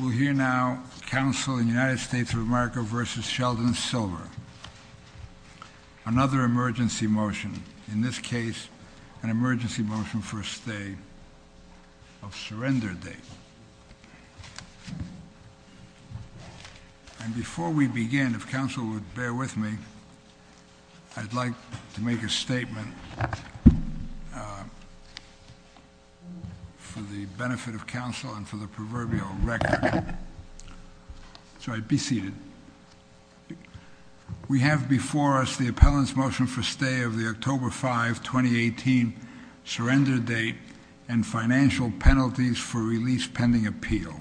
We'll hear now Council in the United States of America v. Sheldon Silver, another emergency motion. In this case, an emergency motion for a stay of surrender date. And before we begin, if Council would bear with me, I'd like to make a statement for the benefit of the proverbial record. So I'd be seated. We have before us the appellant's motion for stay of the October 5, 2018 surrender date and financial penalties for release pending appeal.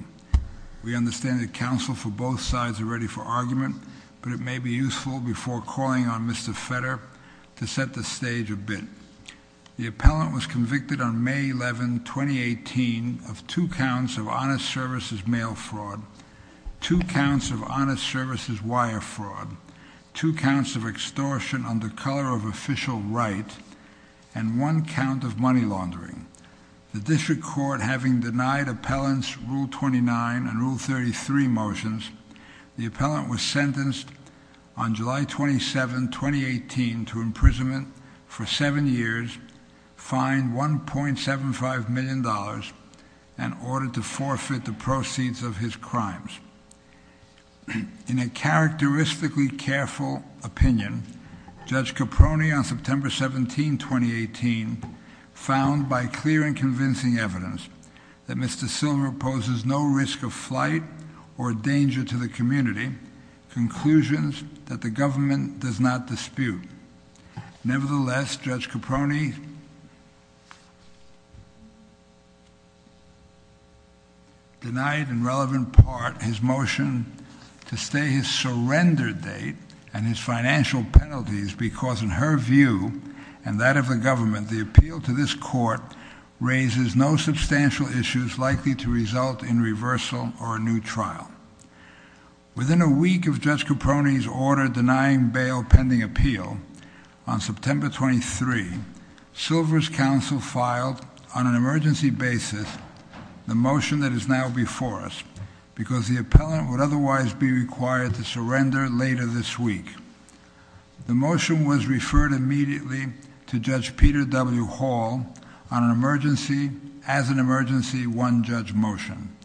We understand that Council for both sides are ready for argument, but it may be useful before calling on Mr. Fetter to set the stage a bit. The appellant was convicted on May 11, 2018 of two counts of honest services mail fraud, two counts of honest services wire fraud, two counts of extortion under color of official right, and one count of money laundering. The district court, having denied appellants Rule 29 and Rule 33 motions, the appellant was sentenced on July 27, 2018, to imprisonment for seven years, fined $1.75 million, and ordered to forfeit the proceeds of his crimes. In a characteristically careful opinion, Judge Caproni on September 17, 2018, found by clear and convincing evidence that Mr. Fetter had given to the community conclusions that the government does not dispute. Nevertheless, Judge Caproni denied in relevant part his motion to stay his surrender date and his financial penalties because in her view and that of the government, the appeal to this court raises no Within a week of Judge Caproni's order denying bail pending appeal on September 23, Silver's counsel filed on an emergency basis the motion that is now before us because the appellant would otherwise be required to surrender later this week. The motion was referred immediately to Judge Peter W. Hall on an emergency as an emergency one judge motion.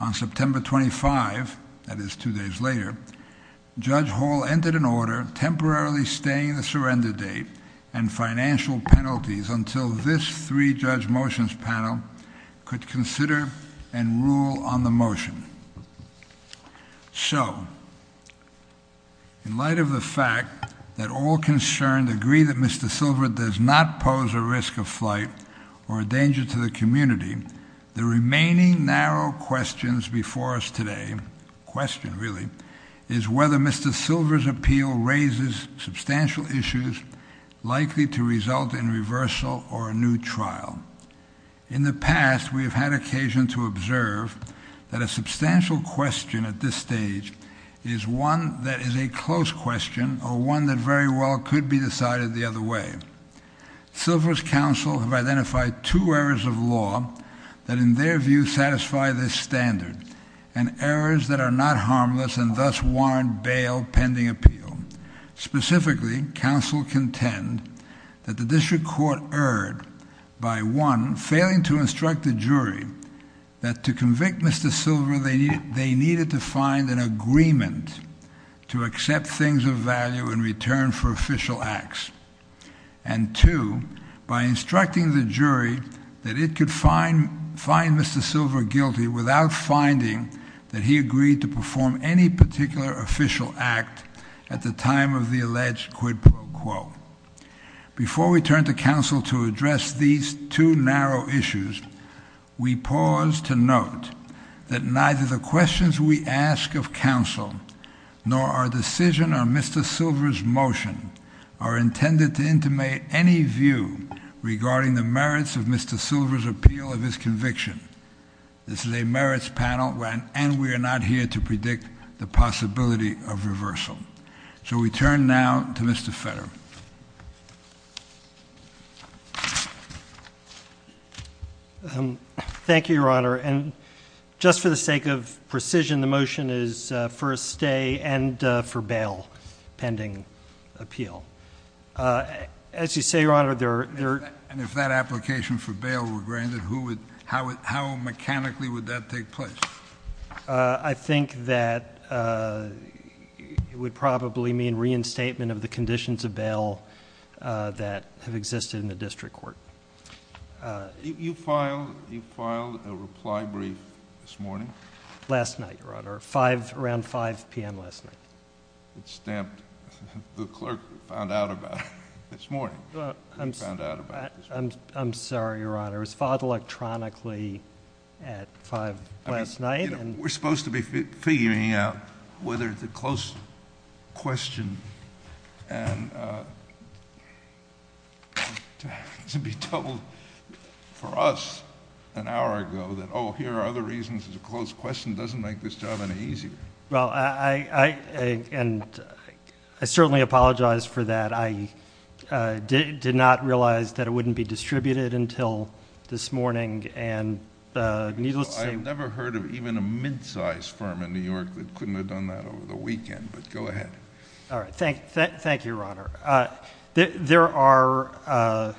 On September 25, that is two days later, Judge Hall entered an order temporarily staying the surrender date and financial penalties until this three judge motions panel could consider and rule on the does not pose a risk of flight or a danger to the community, the remaining narrow questions before us today, question really, is whether Mr. Silver's appeal raises substantial issues likely to result in reversal or a new trial. In the past, we have had occasion to observe that a substantial question at this stage is one that is a close question or one that very well could be decided the other way. Silver's counsel have identified two errors of law that in their view satisfy this standard and errors that are not harmless and thus warrant bail pending appeal. Specifically, counsel contend that the district court erred by one failing to instruct the jury that to convict Mr. Silver they needed to find an agreement to accept things of value in return for official acts, and two, by instructing the jury that it could find Mr. Silver guilty without finding that he agreed to perform any particular official act at the time of the alleged quid pro quo. Before we turn to counsel to address these two narrow issues, we pause to note that neither the questions we ask of counsel nor our decision on Mr. Silver's motion are intended to intimate any view regarding the merits of Mr. Silver's appeal of his conviction. This is a merits panel and we are not here to predict the possibility of reversal. So we turn now to Mr. Federer. Thank you, Your Honor. And just for the sake of precision, the motion is for a stay and for bail pending appeal. As you say, Your Honor, there are... And if that application for bail were granted, how mechanically would that take place? I think that it would probably mean reinstatement of the conditions of bail that have existed in the district court. You filed a reply brief this morning? Last night, Your Honor. Around 5 p.m. last night. It's stamped, the clerk found out about it this morning. I'm sorry, Your Honor. It was filed electronically at 5 last night. We're supposed to be figuring out whether it's a close question and to be told for us an hour ago that, oh, here are the reasons it's a close question doesn't make this job any easier. Well, I certainly apologize for that. I did not realize that it wouldn't be distributed until this morning and needless to say... I've never heard of even a midsize firm in New York that couldn't have done that over the weekend, but go ahead. All right. Thank you, Your Honor. There are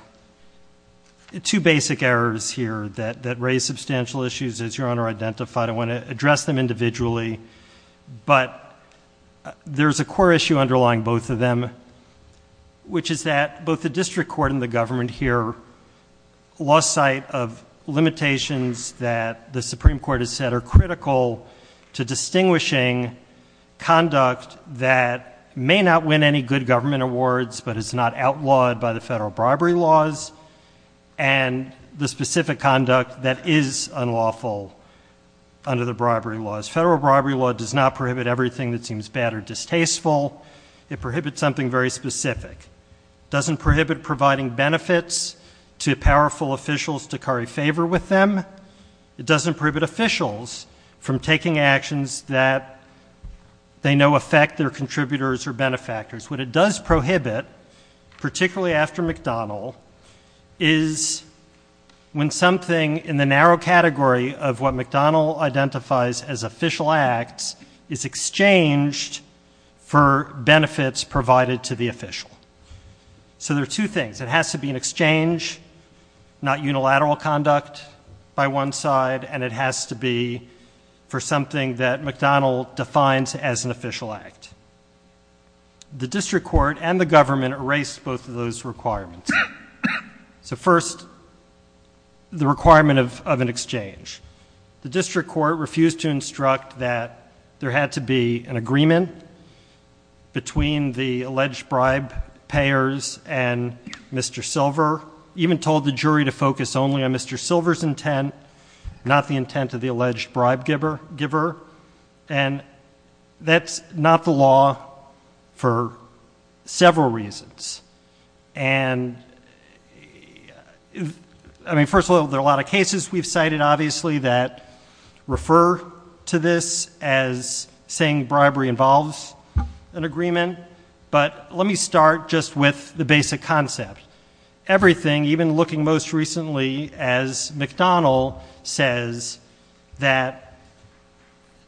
two basic errors here that raise substantial issues, as Your Honor identified. I want to address them individually, but there's a core issue underlying both of them, which is that both the district court and the government here lost sight of limitations that the Supreme Court has said are critical to distinguishing conduct that may not win any good government awards, but is not outlawed by the federal bribery laws, and the specific conduct that is unlawful under the bribery laws. Federal bribery law does not prohibit everything that seems bad or distasteful. It prohibits something very specific. It doesn't prohibit providing benefits to powerful officials to curry favor with them. It doesn't prohibit officials from taking actions that they know affect their contributors or benefactors. What it does prohibit, particularly after McDonnell, is when something in the narrow category of what McDonnell identifies as official acts is exchanged for benefits provided to the official. So there are two things. It has to be an exchange, not unilateral conduct by one side, and it has to be for something that McDonnell defines as an official act. The district court and the government erased both of those requirements. So first, the requirement of an exchange. The district court refused to instruct that there had to be an agreement between the alleged bribe payers and Mr. Silver, even told the jury to focus only on Mr. Silver's intent, not the intent of the alleged bribe giver, and that's not the law for several reasons. And, I mean, first of all, there are a lot of cases we've cited, obviously, that refer to this as saying bribery involves an agreement. But let me start just with the basic concept. Everything, even looking most recently as McDonnell says, that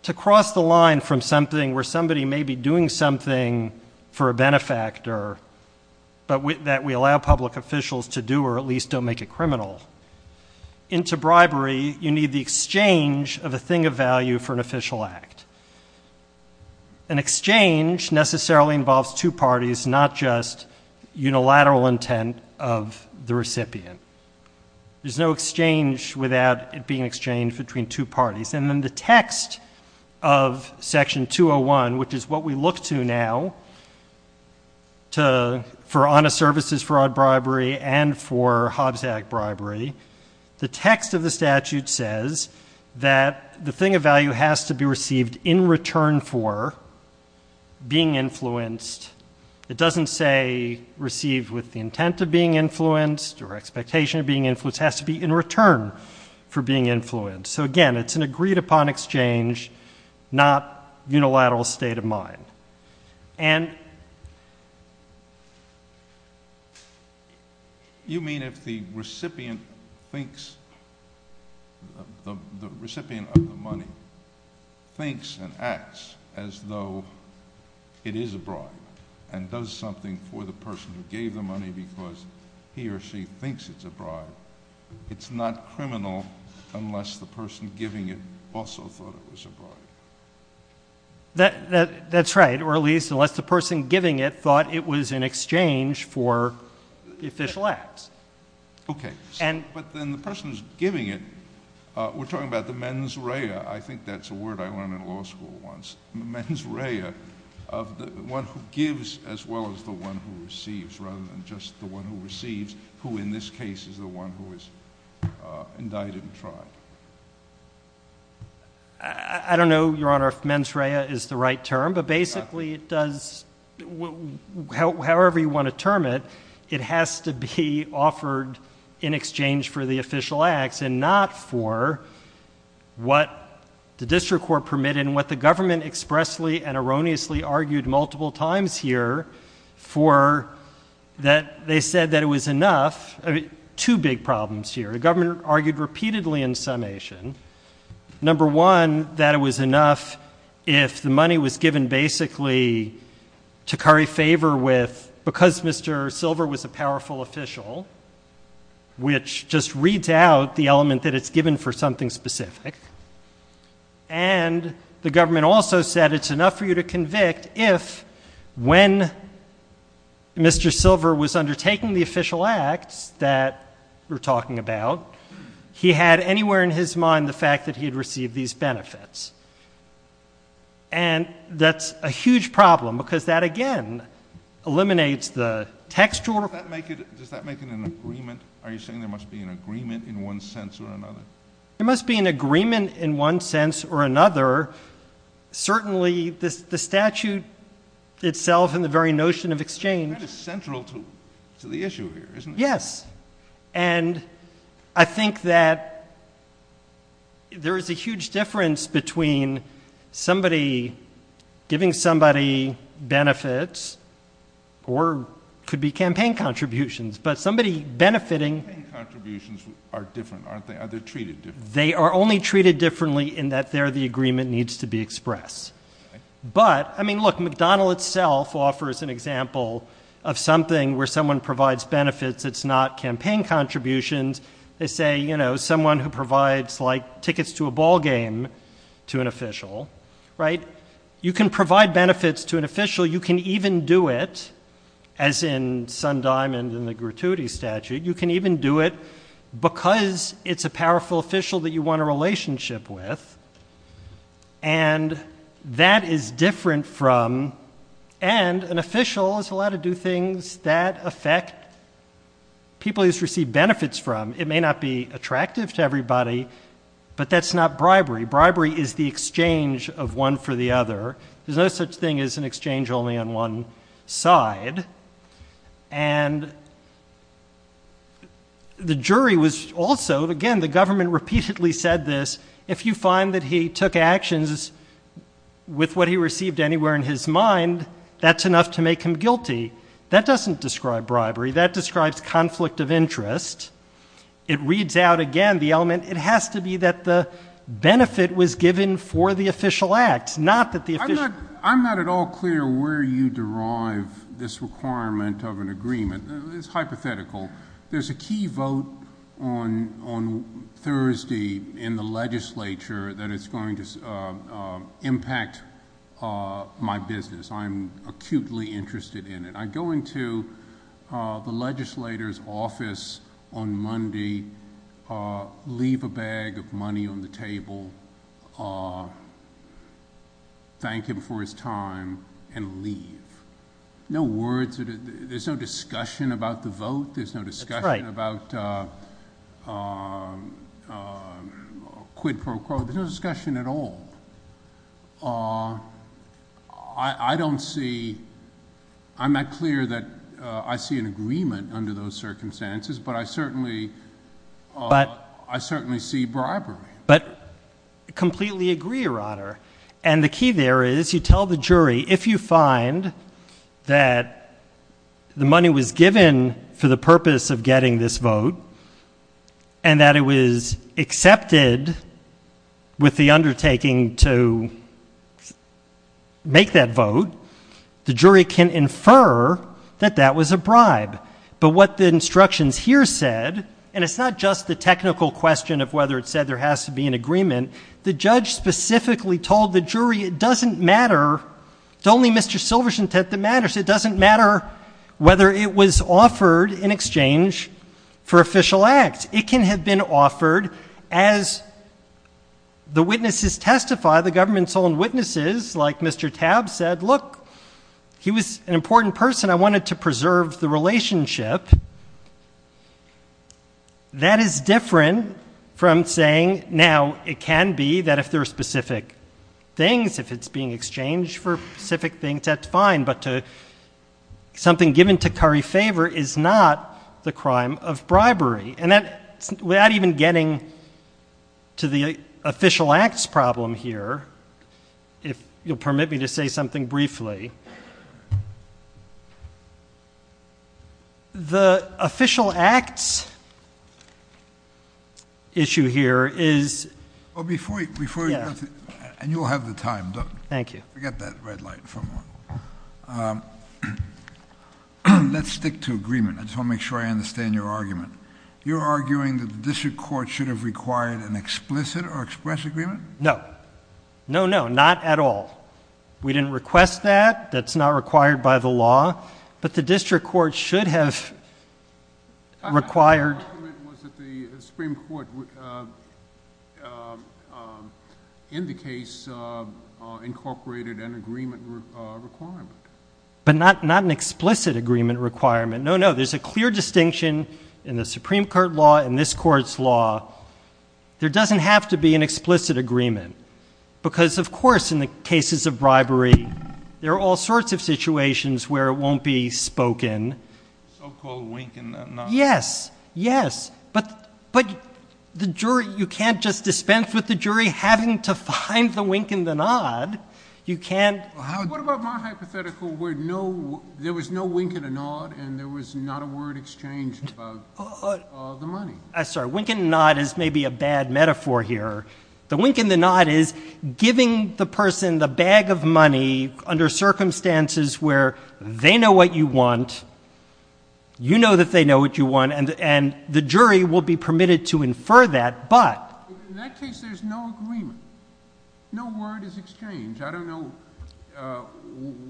to cross the line from something where somebody may be doing something for a benefactor, but that we allow public officials to do or at least don't make it criminal, into bribery you need the exchange of a thing of value for an official act. An exchange necessarily involves two parties, not just unilateral intent of the recipient. There's no exchange without it being exchanged between two parties. And then the text of Section 201, which is what we look to now for honest services fraud bribery and for Hobbs Act bribery, the text of the statute says that the thing of value has to be received in return for being influenced. It doesn't say received with the intent of being influenced or expectation of being influenced. It has to be in return for being influenced. So, again, it's an agreed-upon exchange, not unilateral state of mind. And you mean if the recipient thinks, the recipient of the money thinks and acts as though it is a bribe and does something for the person who gave the money because he or she thinks it's a bribe, it's not criminal unless the person giving it also thought it was a bribe? That's right, or at least unless the person giving it thought it was in exchange for official acts. Okay. But then the person who's giving it, we're talking about the mens rea. I think that's a word I learned in law school once. The mens rea of the one who gives as well as the one who receives rather than just the one who receives, who in this case is the one who is indicted and tried. I don't know, Your Honor, if mens rea is the right term, but basically it does, however you want to term it, it has to be offered in exchange for the official acts and not for what the district court permitted and what the government expressly and erroneously argued multiple times here for that they said that it was enough. Two big problems here. The government argued repeatedly in summation, number one, that it was enough if the money was given basically to curry favor with, because Mr. Silver was a powerful official, which just reads out the element that it's given for something specific, and the government also said it's enough for you to convict if, when Mr. Silver was undertaking the official acts that we're talking about, he had anywhere in his mind the fact that he had received these benefits, and that's a huge problem because that again eliminates the textual. Does that make it an agreement? Are you saying there must be an agreement in one sense or another? There must be an agreement in one sense or another. Certainly the statute itself and the very notion of exchange. That is central to the issue here, isn't it? Yes, and I think that there is a huge difference between somebody giving somebody benefits or it could be campaign contributions, but somebody benefiting. Campaign contributions are different, aren't they? Are they treated differently? They are only treated differently in that they're the agreement needs to be expressed. But, I mean, look, McDonnell itself offers an example of something where someone provides benefits. It's not campaign contributions. They say, you know, someone who provides like tickets to a ball game to an official, right? You can provide benefits to an official. You can even do it, as in Sun Diamond and the gratuity statute. You can even do it because it's a powerful official that you want a relationship with, and that is different from, and an official is allowed to do things that affect people he's received benefits from. It may not be attractive to everybody, but that's not bribery. Bribery is the exchange of one for the other. There's no such thing as an exchange only on one side. And the jury was also, again, the government repeatedly said this, if you find that he took actions with what he received anywhere in his mind, that's enough to make him guilty. That doesn't describe bribery. That describes conflict of interest. It reads out, again, the element, it has to be that the benefit was given for the official act, not that the official. I'm not at all clear where you derive this requirement of an agreement. It's hypothetical. There's a key vote on Thursday in the legislature that is going to impact my business. I'm acutely interested in it. I go into the legislator's office on Monday, leave a bag of money on the table, thank him for his time, and leave. No words, there's no discussion about the vote. There's no discussion about quid pro quo. There's no discussion at all. I don't see, I'm not clear that I see an agreement under those circumstances, but I certainly see bribery. But completely agree, Your Honor. And the key there is you tell the jury, if you find that the money was given for the purpose of getting this vote, and that it was accepted with the undertaking to make that vote, the jury can infer that that was a bribe. But what the instructions here said, and it's not just the technical question of whether it said there has to be an agreement, the judge specifically told the jury it doesn't matter, it's only Mr. Silver's intent that matters, it doesn't matter whether it was offered in exchange for official act. It can have been offered as the witnesses testify, the government's own witnesses, like Mr. Tabb said, look, he was an important person, I wanted to preserve the relationship. That is different from saying, now, it can be that if there are specific things, if it's being exchanged for specific things, that's fine, but something given to curry favor is not the crime of bribery. And without even getting to the official acts problem here, if you'll permit me to say something briefly, the official acts issue here is... Well, before you, and you'll have the time. Thank you. Forget that red light. Let's stick to agreement. I just want to make sure I understand your argument. You're arguing that the district court should have required an explicit or express agreement? No. No, no, not at all. We didn't request that. That's not required by the law. But the district court should have required... My argument was that the Supreme Court, in the case, incorporated an agreement requirement. But not an explicit agreement requirement. No, no, there's a clear distinction in the Supreme Court law and this Court's law. There doesn't have to be an explicit agreement because, of course, in the cases of bribery, there are all sorts of situations where it won't be spoken. So-called wink and a nod. Yes, yes. But the jury, you can't just dispense with the jury having to find the wink and the nod. You can't... What about my hypothetical where there was no wink and a nod and there was not a word exchanged about the money? I'm sorry. Wink and nod is maybe a bad metaphor here. The wink and the nod is giving the person the bag of money under circumstances where they know what you want, you know that they know what you want, and the jury will be permitted to infer that, but... In that case, there's no agreement. No word is exchanged. I don't know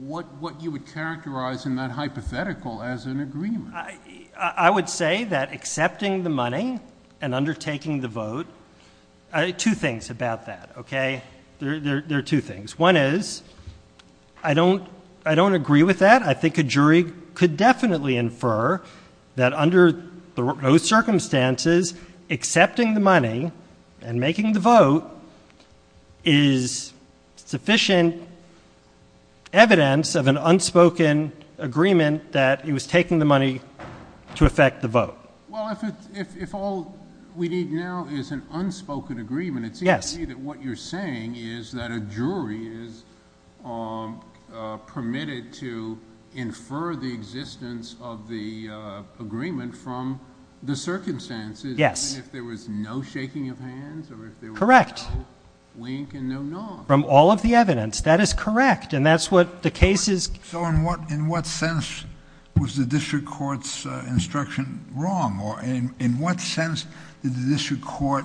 what you would characterize in that hypothetical as an agreement. I would say that accepting the money and undertaking the vote... Two things about that, okay? There are two things. One is I don't agree with that. I think a jury could definitely infer that under those circumstances, accepting the money and making the vote is sufficient evidence of an unspoken agreement that he was taking the money to effect the vote. Well, if all we need now is an unspoken agreement, it seems to me that what you're saying is that a jury is permitted to infer the existence of the agreement from the circumstances. Yes. And if there was no shaking of hands or if there was no wink and no nod. Correct. From all of the evidence. That is correct, and that's what the case is... So in what sense was the district court's instruction wrong, or in what sense did the district court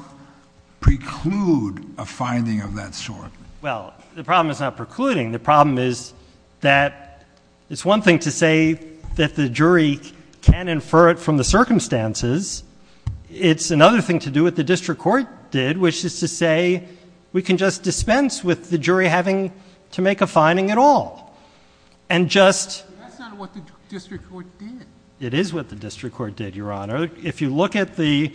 preclude a finding of that sort? Well, the problem is not precluding. The problem is that it's one thing to say that the jury can infer it from the circumstances. It's another thing to do what the district court did, which is to say we can just dispense with the jury having to make a finding at all. And just... That's not what the district court did. It is what the district court did, Your Honor. If you look at the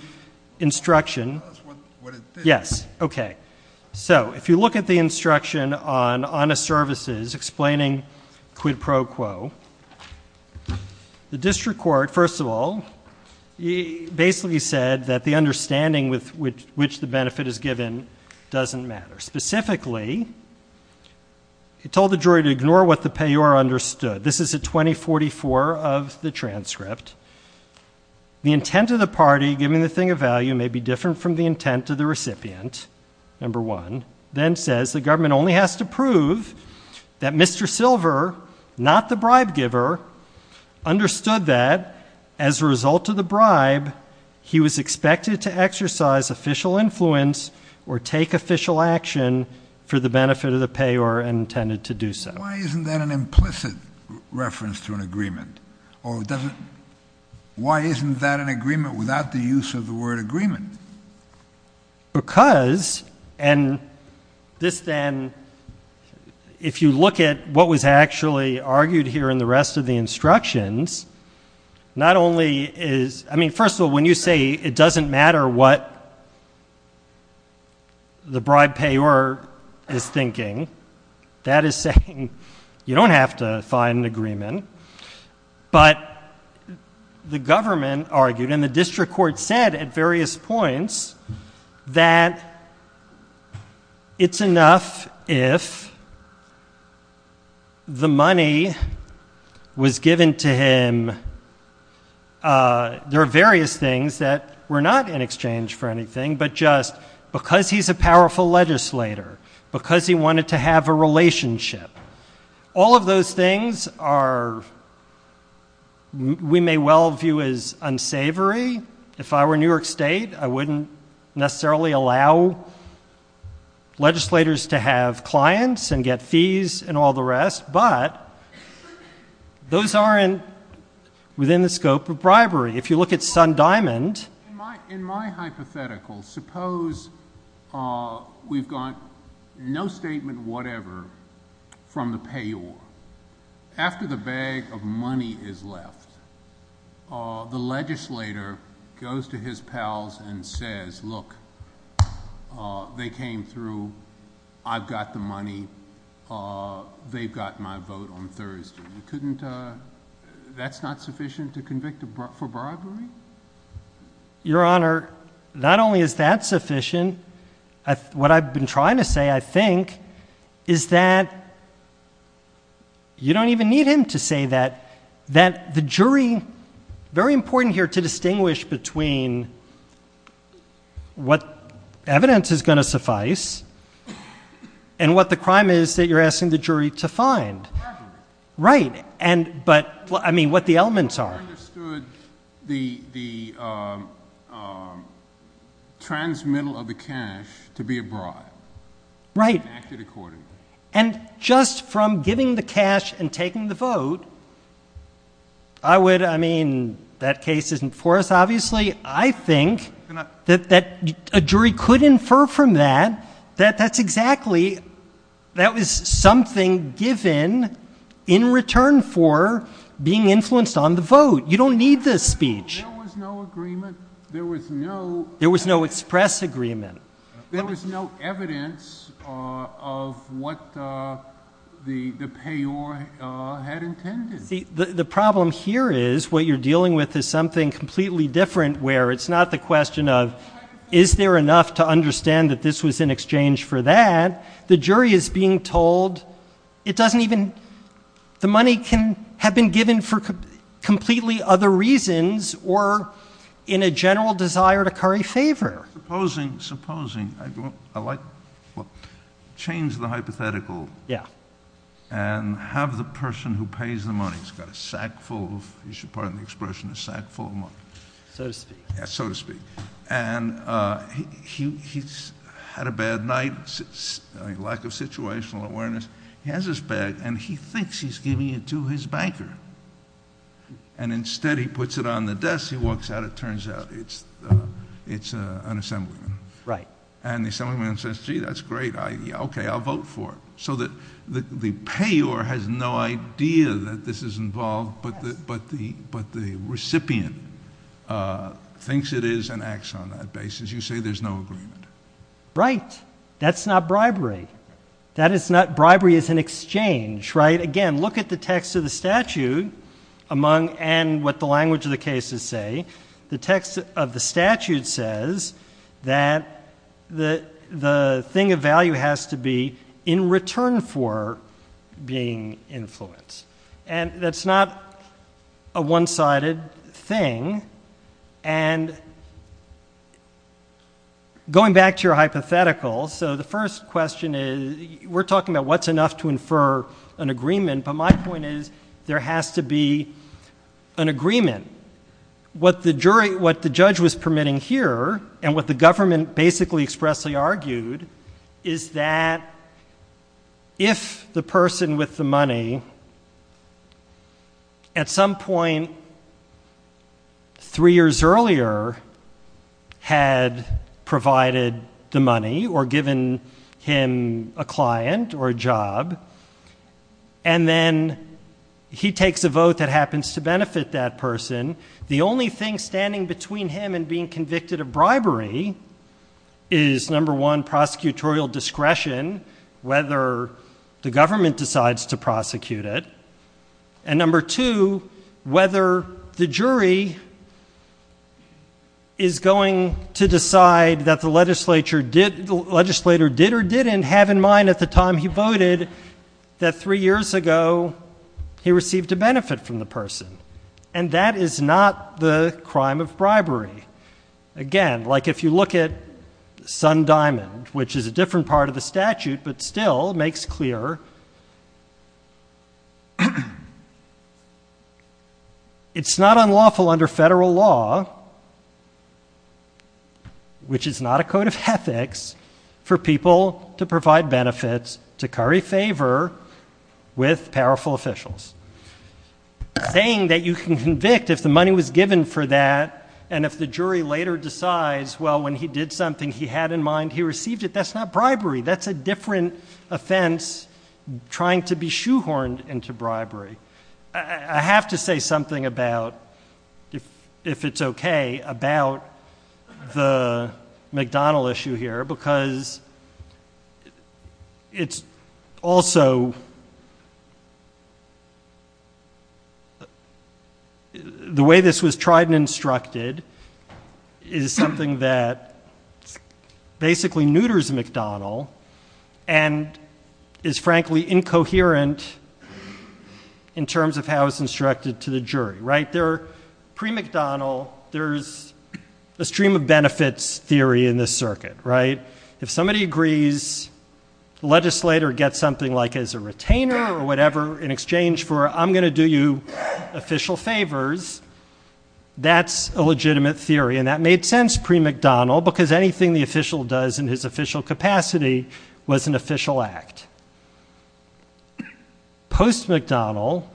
instruction... Tell us what it did. Yes, okay. So if you look at the instruction on honest services explaining quid pro quo, the district court, first of all, basically said that the understanding with which the benefit is given doesn't matter. Specifically, it told the jury to ignore what the payor understood. This is at 2044 of the transcript. The intent of the party giving the thing of value may be different from the intent of the recipient, number one. Then says the government only has to prove that Mr. Silver, not the bribe giver, understood that as a result of the bribe, he was expected to exercise official influence or take official action for the benefit of the payor and intended to do so. Why isn't that an implicit reference to an agreement? Or doesn't... Why isn't that an agreement without the use of the word agreement? Because... And this then... If you look at what was actually argued here in the rest of the instructions, not only is... I mean, first of all, when you say it doesn't matter what the bribe payor is thinking, that is saying you don't have to find an agreement. But the government argued and the district court said at various points that it's enough if the money was given to him... There are various things that were not in exchange for anything, but just because he's a powerful legislator, because he wanted to have a relationship. All of those things are... We may well view as unsavory. If I were New York State, I wouldn't necessarily allow legislators to have clients and get fees and all the rest. But those aren't within the scope of bribery. In my hypothetical, suppose we've got no statement whatever from the payor. After the bag of money is left, the legislator goes to his pals and says, look, they came through. I've got the money. That's not sufficient to convict for bribery? Your Honor, not only is that sufficient, what I've been trying to say, I think, is that you don't even need him to say that. That the jury, very important here to distinguish between what evidence is going to suffice and what the crime is that you're asking the jury to find. Right. But I mean, what the elements are. I understood the transmittal of the cash to be a bribe. Right. And acted accordingly. And just from giving the cash and taking the vote, I would, I mean, that case isn't for us, obviously. A jury could infer from that that that's exactly, that was something given in return for being influenced on the vote. You don't need this speech. There was no agreement. There was no express agreement. There was no evidence of what the payor had intended. The problem here is what you're dealing with is something completely different where it's not the question of is there enough to understand that this was in exchange for that. The jury is being told it doesn't even, the money can have been given for completely other reasons or in a general desire to curry favor. Supposing, I like, well, change the hypothetical. Yeah. And have the person who pays the money, he's got a sack full of, you should pardon the expression, a sack full of money. So to speak. Yeah, so to speak. And he's had a bad night, lack of situational awareness. He has his bag and he thinks he's giving it to his banker. And instead he puts it on the desk, he walks out, it turns out it's an assemblyman. Right. And the assemblyman says, gee, that's great, okay, I'll vote for it. So the payor has no idea that this is involved, but the recipient thinks it is and acts on that basis. You say there's no agreement. Right. That's not bribery. That is not, bribery is an exchange, right? Again, look at the text of the statute and what the language of the cases say. The text of the statute says that the thing of value has to be in return for being influenced. And that's not a one-sided thing. And going back to your hypothetical, so the first question is, we're talking about what's enough to infer an agreement, but my point is there has to be an agreement. What the judge was permitting here and what the government basically expressly argued is that if the person with the money at some point three years earlier had provided the money or given him a client or a job, and then he takes a vote that happens to benefit that person, the only thing standing between him and being convicted of bribery is, number one, prosecutorial discretion, whether the government decides to prosecute it, and number two, whether the jury is going to decide that the legislator did or didn't have in mind at the time he voted that three years ago he received a benefit from the person. And that is not the crime of bribery. Again, like if you look at Sun Diamond, which is a different part of the statute but still makes clear, it's not unlawful under federal law, which is not a code of ethics, for people to provide benefits to curry favor with powerful officials. Saying that you can convict if the money was given for that and if the jury later decides, well, when he did something he had in mind he received it, that's not bribery. That's a different offense trying to be shoehorned into bribery. I have to say something about, if it's okay, about the McDonald issue here, because it's also the way this was tried and instructed is something that basically neuters McDonald and is frankly incoherent in terms of how it's instructed to the jury. Pre-McDonald, there's a stream of benefits theory in this circuit. If somebody agrees, the legislator gets something like as a retainer or whatever in exchange for I'm going to do you official favors, that's a legitimate theory. That made sense pre-McDonald because anything the official does in his official capacity was an official act. Post-McDonald,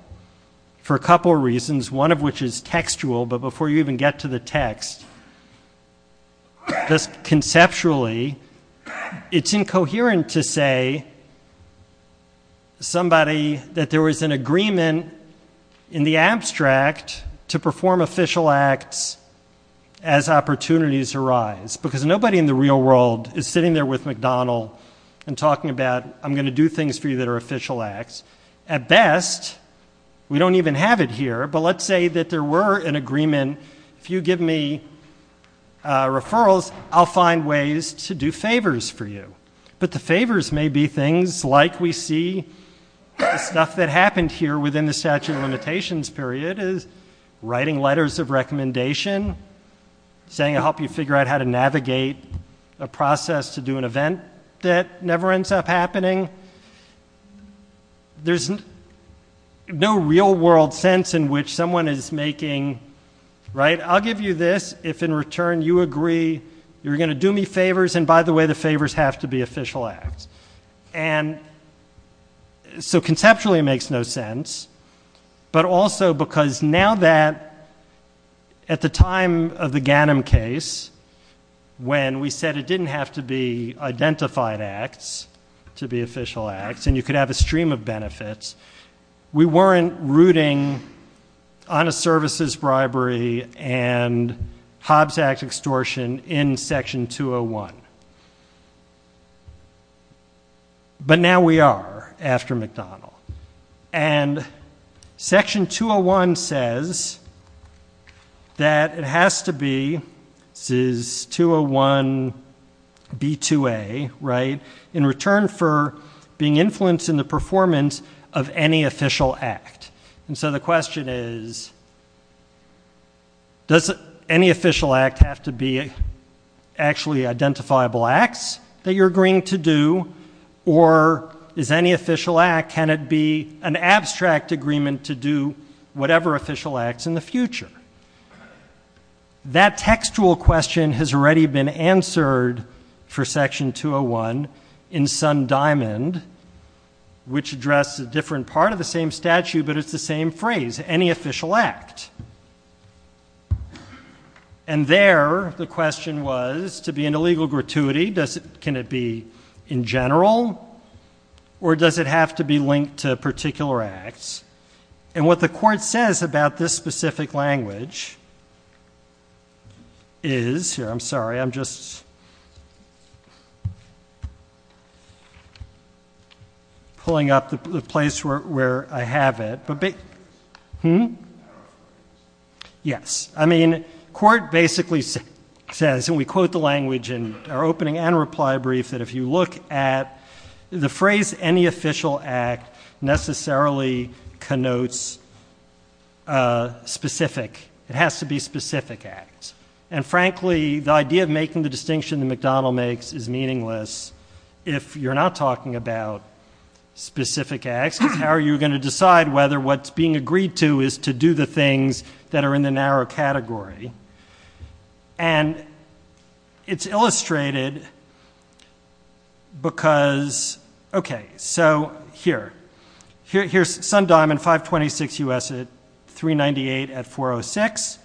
for a couple of reasons, one of which is textual, but before you even get to the text, conceptually it's incoherent to say that there was an agreement in the abstract to perform official acts as opportunities arise. Because nobody in the real world is sitting there with McDonald and talking about I'm going to do things for you that are official acts. At best, we don't even have it here, but let's say that there were an agreement. If you give me referrals, I'll find ways to do favors for you. But the favors may be things like we see stuff that happened here within the statute of limitations period is writing letters of recommendation, saying I'll help you figure out how to navigate a process to do an event that never ends up happening. There's no real world sense in which someone is making I'll give you this, if in return you agree you're going to do me favors, and by the way the favors have to be official acts. So conceptually it makes no sense, but also because now that at the time of the Ganim case, when we said it didn't have to be identified acts to be official acts and you could have a stream of benefits, we weren't rooting honest services bribery and Hobbs Act extortion in section 201. But now we are after McDonald. And section 201 says that it has to be, this is 201B2A, right, in return for being influenced in the performance of any official act. And so the question is, does any official act have to be actually identifiable acts that you're agreeing to do, or is any official act, can it be an abstract agreement to do whatever official acts in the future? That textual question has already been answered for section 201 in Sun Diamond, which addressed a different part of the same statute, but it's the same phrase, any official act. And there the question was to be in a legal gratuity, can it be in general, or does it have to be linked to particular acts? And what the court says about this specific language is, I'm sorry, I'm just pulling up the place where I have it. Yes. I mean, court basically says, and we quote the language in our opening and reply brief, that if you look at the phrase any official act necessarily connotes specific, it has to be specific acts. And frankly, the idea of making the distinction that McDonald makes is meaningless if you're not talking about specific acts. How are you going to decide whether what's being agreed to is to do the things that are in the narrow category? And it's illustrated because, okay, so here. Here's Sun Diamond 526 U.S. 398 at 406.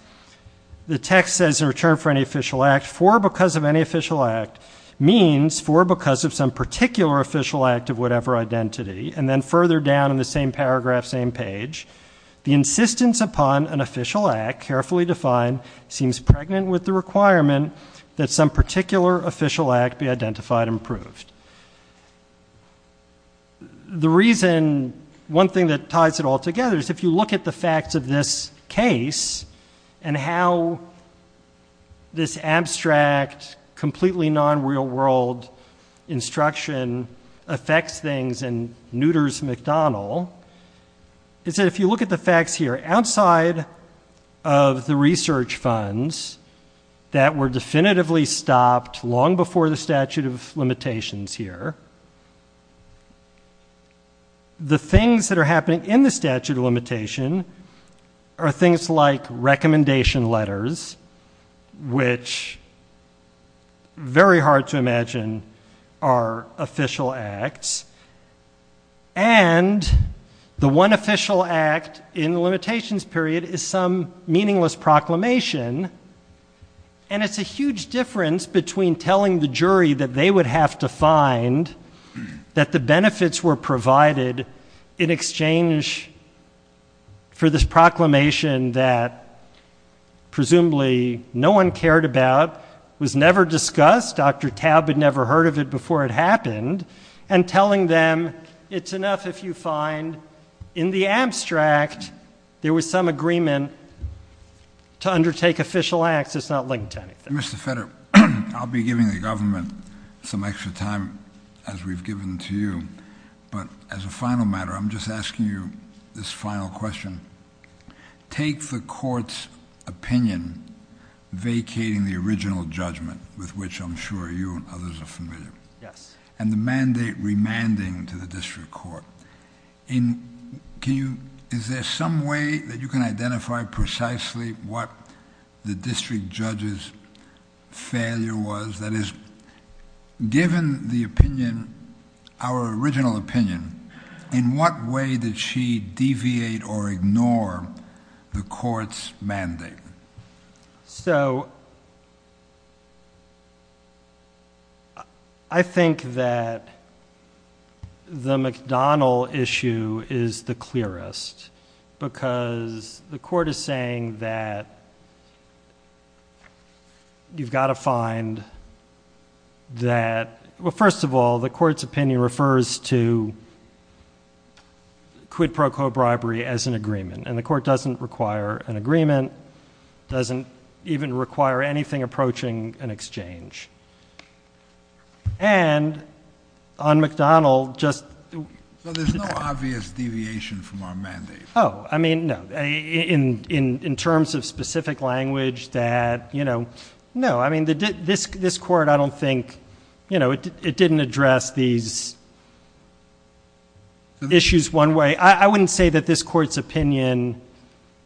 The text says in return for any official act, for because of any official act, means for because of some particular official act of whatever identity, and then further down in the same paragraph, same page, the insistence upon an official act carefully defined seems pregnant with the requirement that some particular official act be identified and approved. The reason, one thing that ties it all together is if you look at the facts of this case and how this abstract, completely non-real world instruction affects things and neuters McDonald is that if you look at the facts here outside of the research funds that were definitively stopped long before the statute of limitations here, the things that are happening in the statute of limitation are things like recommendation letters, which very hard to imagine are official acts, and the one official act in the limitations period is some meaningless proclamation, and it's a huge difference between telling the jury that they would have to find that the benefits were provided in exchange for this proclamation that presumably no one cared about, was never discussed, Dr. Taub had never heard of it before it happened, and telling them it's enough if you find in the abstract there was some agreement to undertake official acts that's not linked to anything. Mr. Fetter, I'll be giving the government some extra time as we've given to you, but as a final matter, I'm just asking you this final question. Take the court's opinion vacating the original judgment, with which I'm sure you and others are familiar, and the mandate remanding to the district court. Is there some way that you can identify precisely what the district judge's failure was? That is, given the opinion, our original opinion, in what way did she deviate or ignore the court's mandate? So I think that the McDonnell issue is the clearest, because the court is saying that you've got to find that, well, first of all, the court's opinion refers to quid pro quo bribery as an agreement, and the court doesn't require an agreement, doesn't even require anything approaching an exchange. And on McDonnell, just... So there's no obvious deviation from our mandate? Oh, I mean, no. In terms of specific language, that, you know, no. I mean, this court, I don't think, you know, it didn't address these issues one way. I wouldn't say that this court's opinion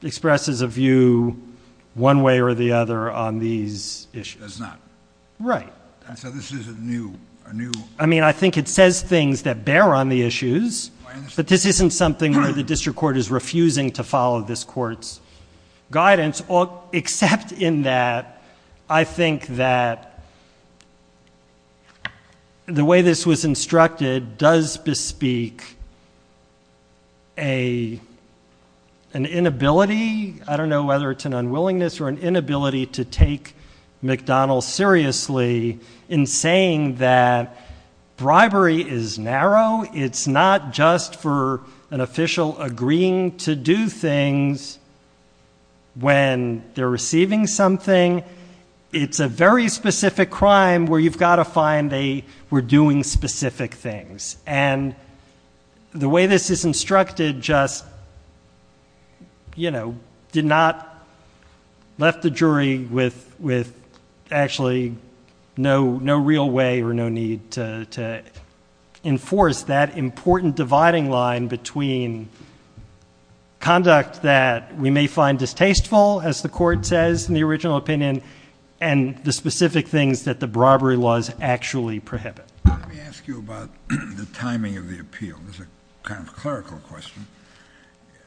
expresses a view one way or the other on these issues. It does not. Right. And so this is a new... I mean, I think it says things that bear on the issues, but this isn't something where the district court is refusing to follow this court's guidance, except in that I think that the way this was instructed does bespeak an inability, I don't know whether it's an unwillingness or an inability, to take McDonnell seriously in saying that bribery is narrow. It's not just for an official agreeing to do things when they're receiving something. It's a very specific crime where you've got to find they were doing specific things. And the way this is instructed just, you know, did not left the jury with actually no real way or no need to enforce that important dividing line between conduct that we may find distasteful, as the court says in the original opinion, and the specific things that the bribery laws actually prohibit. Let me ask you about the timing of the appeal. This is a kind of clerical question.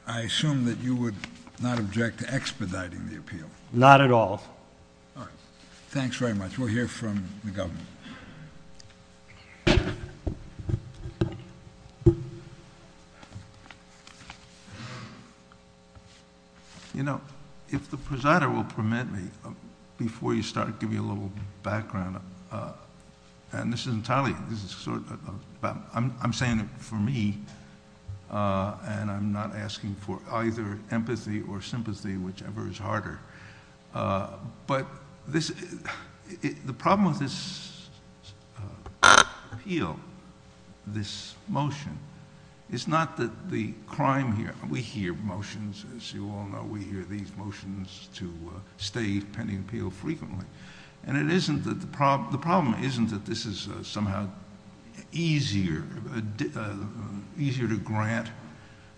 I assume that you would not object to expediting the appeal. Not at all. All right. Thanks very much. We'll hear from the government. You know, if the presider will permit me, before you start, I'll give you a little background. And this is entirely, this is sort of, I'm saying it for me, and I'm not asking for either empathy or sympathy, whichever is harder. But the problem with this appeal, this motion, is not that the crime here, we hear motions, as you all know, we hear these motions to stay pending appeal frequently. And the problem isn't that this is somehow easier to grant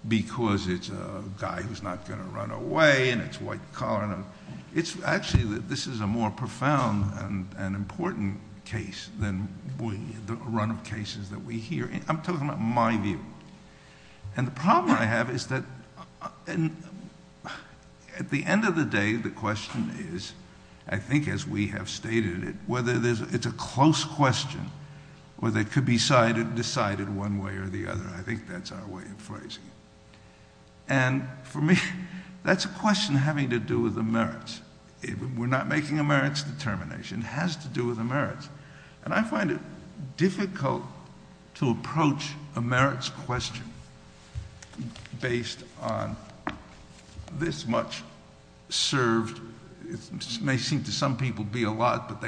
because it's a guy who's not going to run away and it's white collar. It's actually that this is a more profound and important case than the run of cases that we hear. I'm talking about my view. And the problem I have is that at the end of the day, the question is, I think as we have stated it, whether it's a close question, whether it could be decided one way or the other. I think that's our way of phrasing it. And for me, that's a question having to do with the merits. We're not making a merits determination. It has to do with the merits. And I find it difficult to approach a merits question based on this much served. It may seem to some people to be a lot, but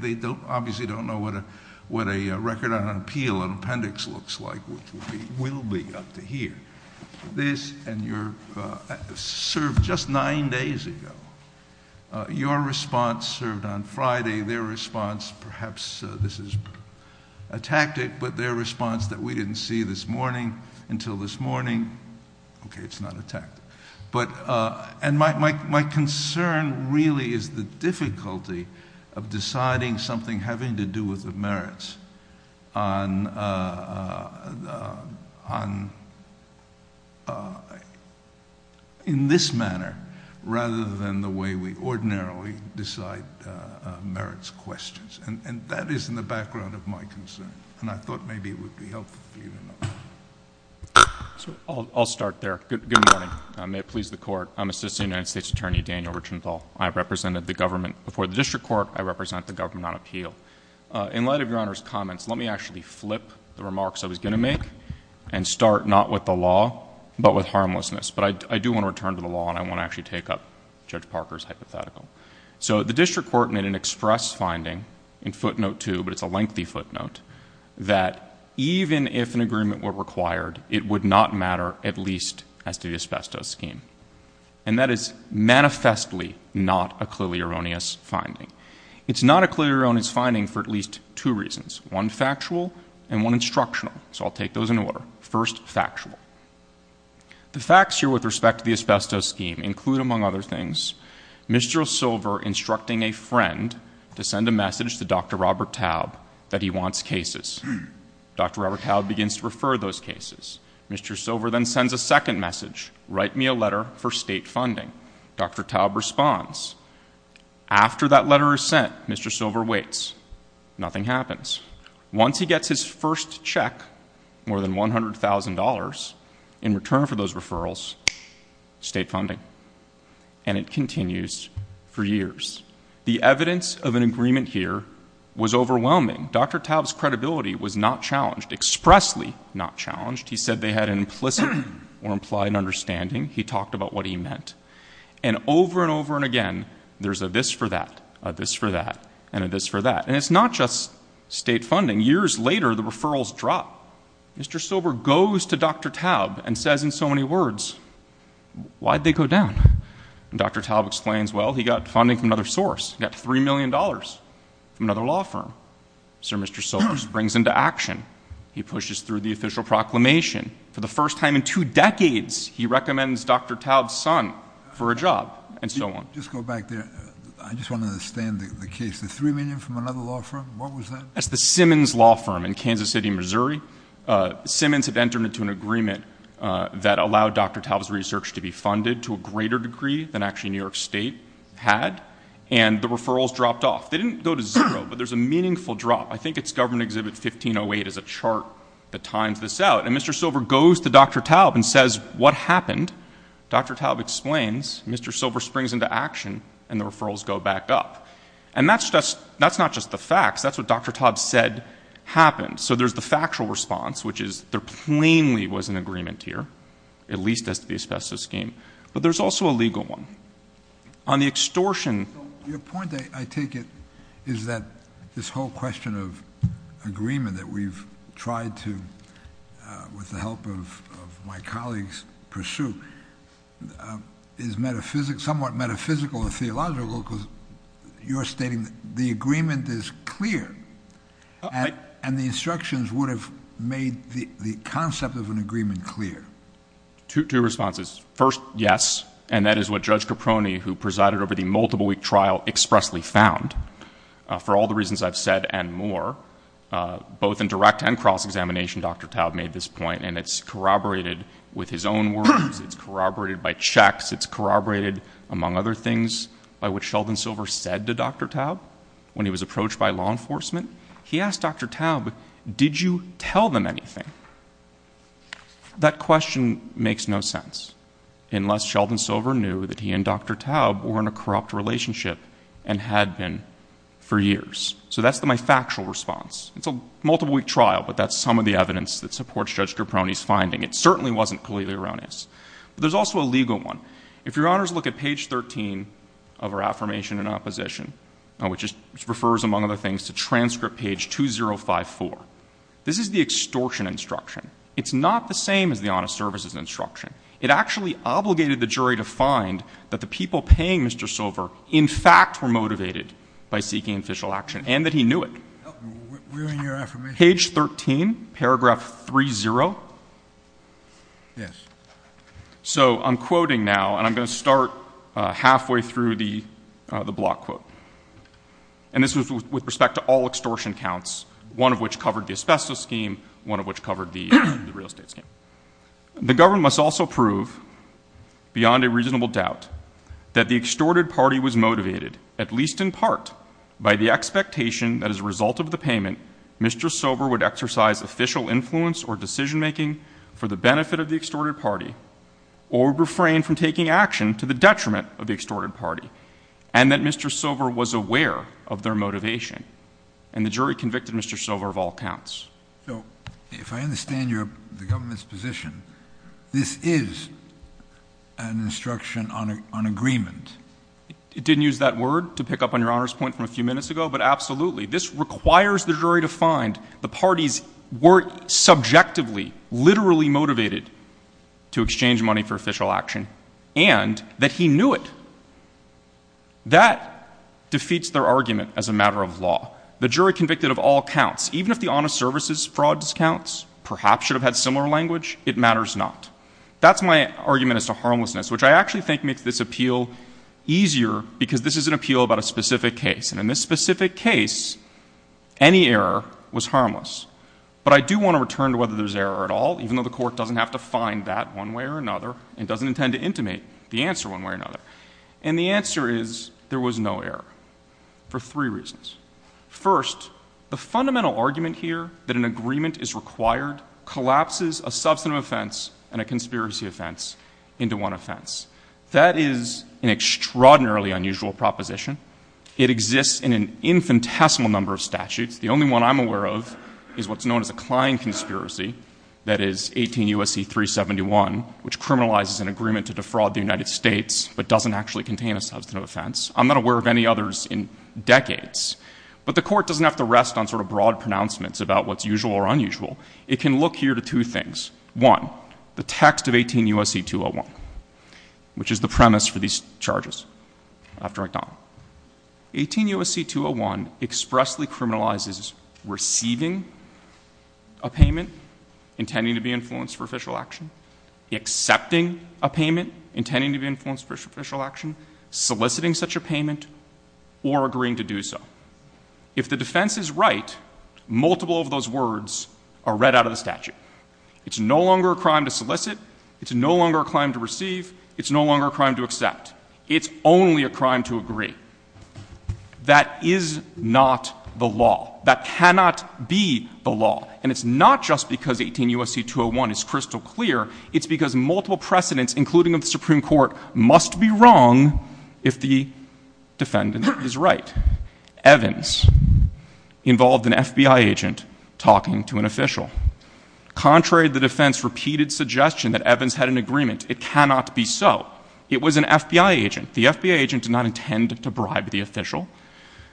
they obviously don't know what a record on an appeal, an appendix looks like, which will be up to here. This and your serve just nine days ago. Your response served on Friday. Their response, perhaps this is a tactic, but their response that we didn't see this morning until this morning. Okay, it's not a tactic. And my concern really is the difficulty of deciding something having to do with the merits in this manner, rather than the way we ordinarily decide merits questions. And that is in the background of my concern. And I thought maybe it would be helpful for you to know that. I'll start there. Good morning. May it please the Court. I'm Assistant United States Attorney Daniel Richenthal. I represented the government before the district court. I represent the government on appeal. In light of Your Honor's comments, let me actually flip the remarks I was going to make and start not with the law, but with harmlessness. But I do want to return to the law, and I want to actually take up Judge Parker's hypothetical. So the district court made an express finding in footnote two, but it's a lengthy footnote, that even if an agreement were required, it would not matter at least as to the asbestos scheme. And that is manifestly not a clearly erroneous finding. It's not a clearly erroneous finding for at least two reasons, one factual and one instructional. So I'll take those in order. First, factual. The facts here with respect to the asbestos scheme include, among other things, Mr. Silver instructing a friend to send a message to Dr. Robert Taub that he wants cases. Dr. Robert Taub begins to refer those cases. Mr. Silver then sends a second message, write me a letter for state funding. Dr. Taub responds. After that letter is sent, Mr. Silver waits. Nothing happens. Once he gets his first check, more than $100,000, in return for those referrals, state funding. And it continues for years. The evidence of an agreement here was overwhelming. Dr. Taub's credibility was not challenged, expressly not challenged. He said they had an implicit or implied understanding. He talked about what he meant. And over and over and again, there's a this for that, a this for that, and a this for that. And it's not just state funding. Years later, the referrals drop. Mr. Silver goes to Dr. Taub and says in so many words, why'd they go down? And Dr. Taub explains, well, he got funding from another source. He got $3 million from another law firm. So Mr. Silver springs into action. He pushes through the official proclamation. For the first time in two decades, he recommends Dr. Taub's son for a job, and so on. Just go back there. I just want to understand the case. The $3 million from another law firm, what was that? That's the Simmons Law Firm in Kansas City, Missouri. Simmons had entered into an agreement that allowed Dr. Taub's research to be funded to a greater degree than actually New York State had, and the referrals dropped off. They didn't go to zero, but there's a meaningful drop. I think it's Government Exhibit 1508 is a chart that times this out. And Mr. Silver goes to Dr. Taub and says, what happened? Dr. Taub explains. Mr. Silver springs into action, and the referrals go back up. And that's not just the facts. That's what Dr. Taub said happened. So there's the factual response, which is there plainly was an agreement here, at least as to the asbestos scheme. But there's also a legal one. On the extortion. Your point, I take it, is that this whole question of agreement that we've tried to, with the help of my colleagues, pursue, is somewhat metaphysical or theological because you're stating the agreement is clear, and the instructions would have made the concept of an agreement clear. Two responses. First, yes, and that is what Judge Caproni, who presided over the multiple-week trial, expressly found. For all the reasons I've said and more, both in direct and cross-examination, Dr. Taub made this point, and it's corroborated with his own words. It's corroborated by checks. It's corroborated, among other things, by what Sheldon Silver said to Dr. Taub when he was approached by law enforcement. He asked Dr. Taub, did you tell them anything? That question makes no sense, unless Sheldon Silver knew that he and Dr. Taub were in a corrupt relationship and had been for years. So that's my factual response. It's a multiple-week trial, but that's some of the evidence that supports Judge Caproni's finding. It certainly wasn't clearly erroneous. But there's also a legal one. If Your Honors look at page 13 of her affirmation in opposition, which refers, among other things, to transcript page 2054, this is the extortion instruction. It's not the same as the honest services instruction. It actually obligated the jury to find that the people paying Mr. Silver, in fact, were motivated by seeking official action and that he knew it. We're in your affirmation. Page 13, paragraph 30. Yes. So I'm quoting now, and I'm going to start halfway through the block quote. And this was with respect to all extortion counts, one of which covered the asbestos scheme, one of which covered the real estate scheme. The government must also prove, beyond a reasonable doubt, that the extorted party was motivated, at least in part, by the expectation that as a result of the payment, Mr. Silver would exercise official influence or decision-making for the benefit of the extorted party or refrain from taking action to the detriment of the extorted party, and that Mr. Silver was aware of their motivation. And the jury convicted Mr. Silver of all counts. So if I understand the government's position, this is an instruction on agreement. It didn't use that word to pick up on Your Honor's point from a few minutes ago, but absolutely. This requires the jury to find the parties were subjectively, literally motivated to exchange money for official action, and that he knew it. That defeats their argument as a matter of law. The jury convicted of all counts, even if the honest services fraud discounts perhaps should have had similar language, it matters not. That's my argument as to harmlessness, which I actually think makes this appeal easier because this is an appeal about a specific case. And in this specific case, any error was harmless. But I do want to return to whether there's error at all, even though the court doesn't have to find that one way or another and doesn't intend to intimate the answer one way or another. And the answer is there was no error for three reasons. First, the fundamental argument here that an agreement is required collapses a substantive offense and a conspiracy offense into one offense. That is an extraordinarily unusual proposition. It exists in an infinitesimal number of statutes. The only one I'm aware of is what's known as a Klein conspiracy, that is 18 U.S.C. 371, which criminalizes an agreement to defraud the United States but doesn't actually contain a substantive offense. I'm not aware of any others in decades. But the court doesn't have to rest on sort of broad pronouncements about what's usual or unusual. It can look here to two things. One, the text of 18 U.S.C. 201, which is the premise for these charges after McDonald. 18 U.S.C. 201 expressly criminalizes receiving a payment intending to be influenced for official action, accepting a payment intending to be influenced for official action, soliciting such a payment, or agreeing to do so. If the defense is right, multiple of those words are read out of the statute. It's no longer a crime to solicit. It's no longer a crime to receive. It's no longer a crime to accept. It's only a crime to agree. That is not the law. That cannot be the law. And it's not just because 18 U.S.C. 201 is crystal clear. It's because multiple precedents, including of the Supreme Court, must be wrong if the defendant is right. Evans involved an FBI agent talking to an official. Contrary to the defense's repeated suggestion that Evans had an agreement, it cannot be so. It was an FBI agent. The FBI agent did not intend to bribe the official.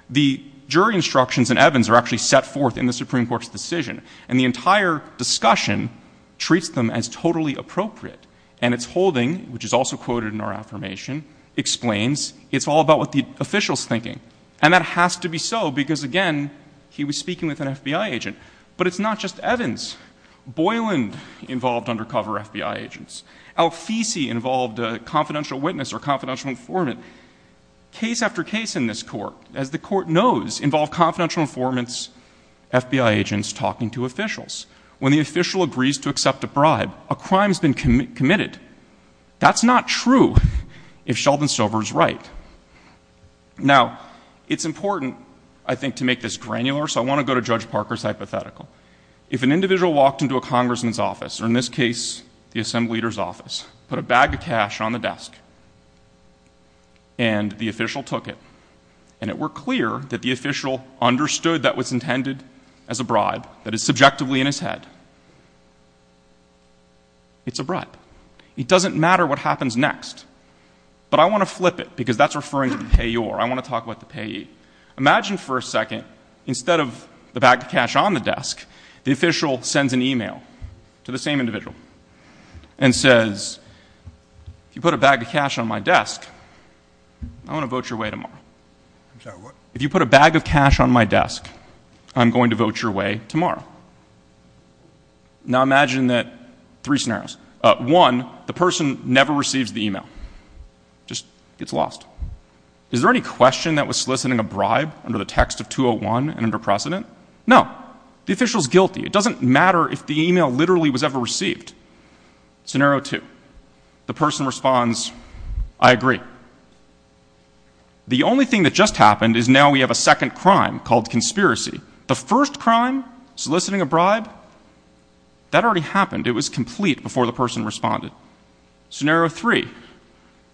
The jury instructions in Evans are actually set forth in the Supreme Court's decision. And the entire discussion treats them as totally appropriate. And its holding, which is also quoted in our affirmation, explains it's all about what the official's thinking. And that has to be so because, again, he was speaking with an FBI agent. But it's not just Evans. Boylan involved undercover FBI agents. Alfisi involved a confidential witness or a confidential informant. Case after case in this court, as the court knows, involve confidential informants, FBI agents talking to officials. When the official agrees to accept a bribe, a crime has been committed. That's not true if Sheldon Stover is right. Now, it's important, I think, to make this granular, so I want to go to Judge Parker's hypothetical. If an individual walked into a congressman's office, or in this case, the assembly leader's office, put a bag of cash on the desk, and the official took it, and it were clear that the official understood that was intended as a bribe, that it's subjectively in his head, it's a bribe. It doesn't matter what happens next. But I want to flip it because that's referring to the payor. I want to talk about the payee. Imagine for a second, instead of the bag of cash on the desk, the official sends an e-mail to the same individual and says, if you put a bag of cash on my desk, I want to vote your way tomorrow. If you put a bag of cash on my desk, I'm going to vote your way tomorrow. Now, imagine that three scenarios. One, the person never receives the e-mail, just gets lost. Is there any question that was soliciting a bribe under the text of 201 and under precedent? No. The official's guilty. It doesn't matter if the e-mail literally was ever received. Scenario two, the person responds, I agree. The only thing that just happened is now we have a second crime called conspiracy. The first crime, soliciting a bribe, that already happened. It was complete before the person responded. Scenario three,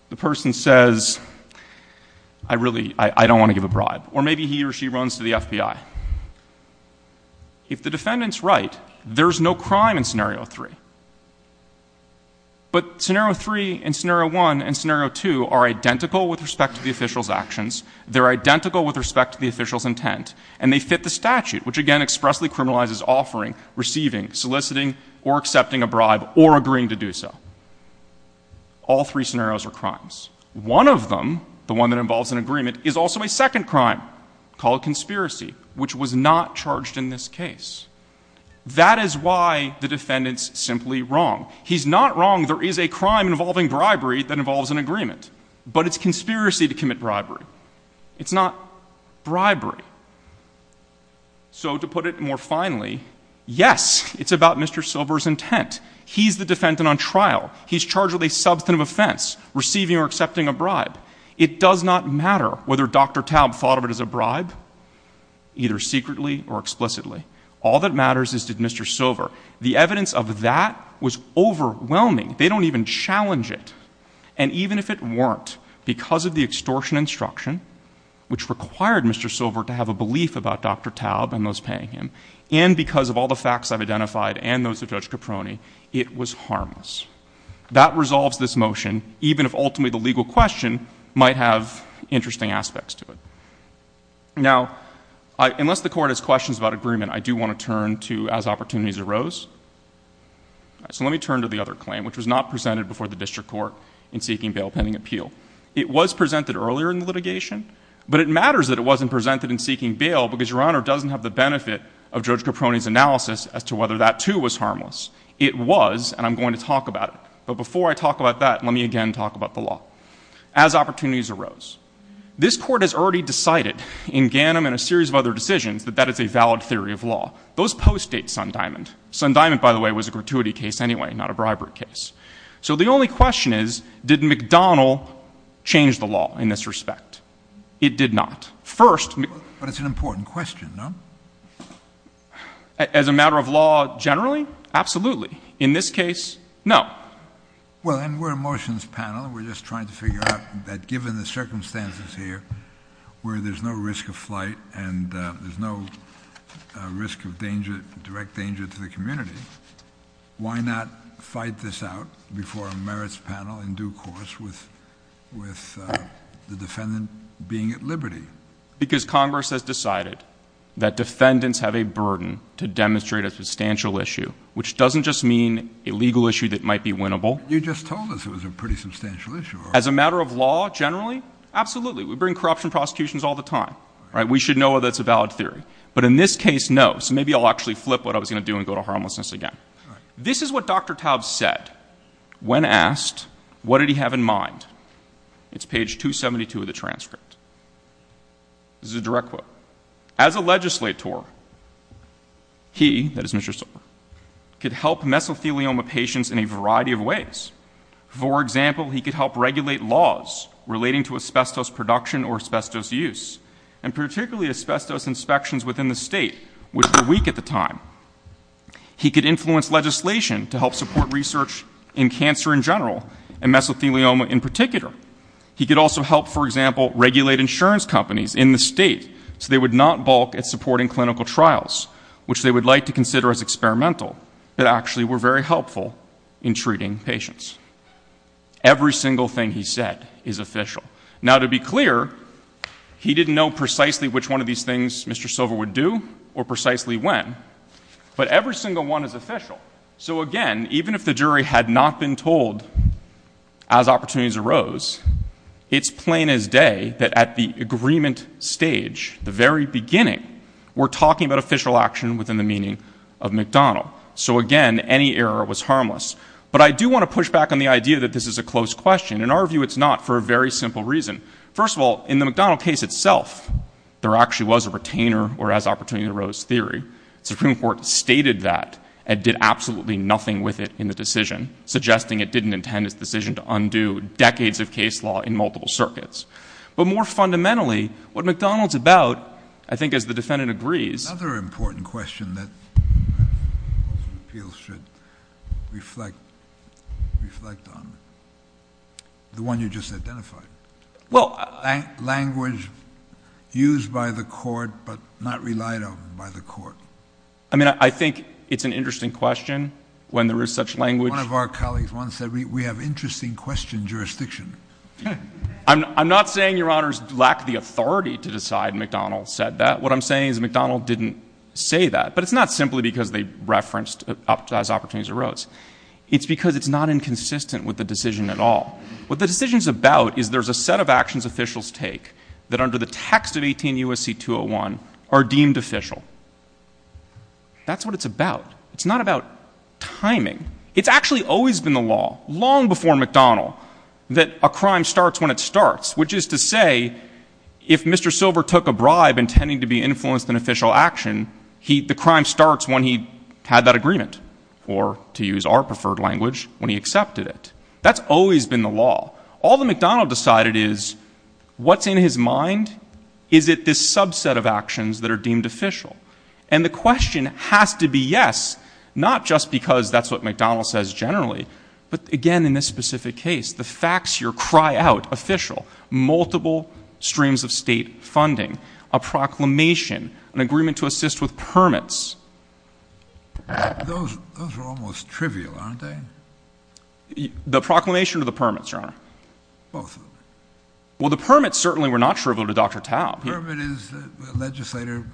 the person says, I really, I don't want to give a bribe. Or maybe he or she runs to the FBI. If the defendant's right, there's no crime in scenario three. But scenario three and scenario one and scenario two are identical with respect to the official's actions. They're identical with respect to the official's intent. And they fit the statute, which again expressly criminalizes offering, receiving, soliciting, or accepting a bribe or agreeing to do so. All three scenarios are crimes. One of them, the one that involves an agreement, is also a second crime called conspiracy, which was not charged in this case. That is why the defendant's simply wrong. He's not wrong. There is a crime involving bribery that involves an agreement. But it's conspiracy to commit bribery. It's not bribery. So to put it more finally, yes, it's about Mr. Silver's intent. He's the defendant on trial. He's charged with a substantive offense, receiving or accepting a bribe. It does not matter whether Dr. Taub thought of it as a bribe, either secretly or explicitly. All that matters is did Mr. Silver. The evidence of that was overwhelming. They don't even challenge it. And even if it weren't, because of the extortion instruction, which required Mr. Silver to have a belief about Dr. Taub and those paying him, and because of all the facts I've identified and those of Judge Caproni, it was harmless. That resolves this motion, even if ultimately the legal question might have interesting aspects to it. Now, unless the Court has questions about agreement, I do want to turn to as opportunities arose. So let me turn to the other claim, which was not presented before the District Court in seeking bail pending appeal. It was presented earlier in the litigation, but it matters that it wasn't presented in seeking bail because Your Honor doesn't have the benefit of Judge Caproni's analysis as to whether that, too, was harmless. It was, and I'm going to talk about it. But before I talk about that, let me again talk about the law. As opportunities arose. This Court has already decided in Ganim and a series of other decisions that that is a valid theory of law. Those post-Date Sun-Diamond. Sun-Diamond, by the way, was a gratuity case anyway, not a bribery case. So the only question is, did McDonald change the law in this respect? It did not. First. But it's an important question, no? As a matter of law generally, absolutely. In this case, no. Well, and we're a motions panel. We're just trying to figure out that given the circumstances here where there's no risk of flight and there's no risk of danger, direct danger to the community, why not fight this out before a merits panel in due course with the defendant being at liberty? Because Congress has decided that defendants have a burden to demonstrate a substantial issue, which doesn't just mean a legal issue that might be winnable. You just told us it was a pretty substantial issue. As a matter of law generally, absolutely. We bring corruption prosecutions all the time. We should know that's a valid theory. But in this case, no. So maybe I'll actually flip what I was going to do and go to harmlessness again. This is what Dr. Taub said when asked, what did he have in mind? It's page 272 of the transcript. This is a direct quote. As a legislator, he, that is Mr. Silver, could help mesothelioma patients in a variety of ways. For example, he could help regulate laws relating to asbestos production or asbestos use, and particularly asbestos inspections within the state, which were weak at the time. He could influence legislation to help support research in cancer in general and mesothelioma in particular. He could also help, for example, regulate insurance companies in the state so they would not balk at supporting clinical trials, which they would like to consider as experimental, but actually were very helpful in treating patients. Every single thing he said is official. Now, to be clear, he didn't know precisely which one of these things Mr. Silver would do or precisely when. But every single one is official. So, again, even if the jury had not been told as opportunities arose, it's plain as day that at the agreement stage, the very beginning, we're talking about official action within the meaning of McDonald. So, again, any error was harmless. But I do want to push back on the idea that this is a closed question. In our view, it's not for a very simple reason. First of all, in the McDonald case itself, there actually was a retainer or as opportunities arose theory. The Supreme Court stated that and did absolutely nothing with it in the decision, suggesting it didn't intend its decision to undo decades of case law in multiple circuits. But more fundamentally, what McDonald's about, I think as the defendant agrees. Another important question that appeals should reflect on, the one you just identified. Language used by the court but not relied on by the court. I mean, I think it's an interesting question when there is such language. One of our colleagues once said, we have interesting question jurisdiction. I'm not saying your honors lack the authority to decide McDonald said that. What I'm saying is McDonald didn't say that. But it's not simply because they referenced as opportunities arose. It's because it's not inconsistent with the decision at all. What the decision's about is there's a set of actions officials take that under the text of 18 U.S.C. 201 are deemed official. That's what it's about. It's not about timing. It's actually always been the law, long before McDonald, that a crime starts when it starts, which is to say, if Mr. Silver took a bribe intending to be influenced in official action, the crime starts when he had that agreement, or to use our preferred language, when he accepted it. That's always been the law. All that McDonald decided is, what's in his mind? Is it this subset of actions that are deemed official? And the question has to be yes, not just because that's what McDonald says generally, but, again, in this specific case, the facts here cry out official, multiple streams of state funding, a proclamation, an agreement to assist with permits. Those are almost trivial, aren't they? The proclamation or the permits, Your Honor? Both of them. Well, the permits certainly were not trivial to Dr. Taub. The permit is the legislator,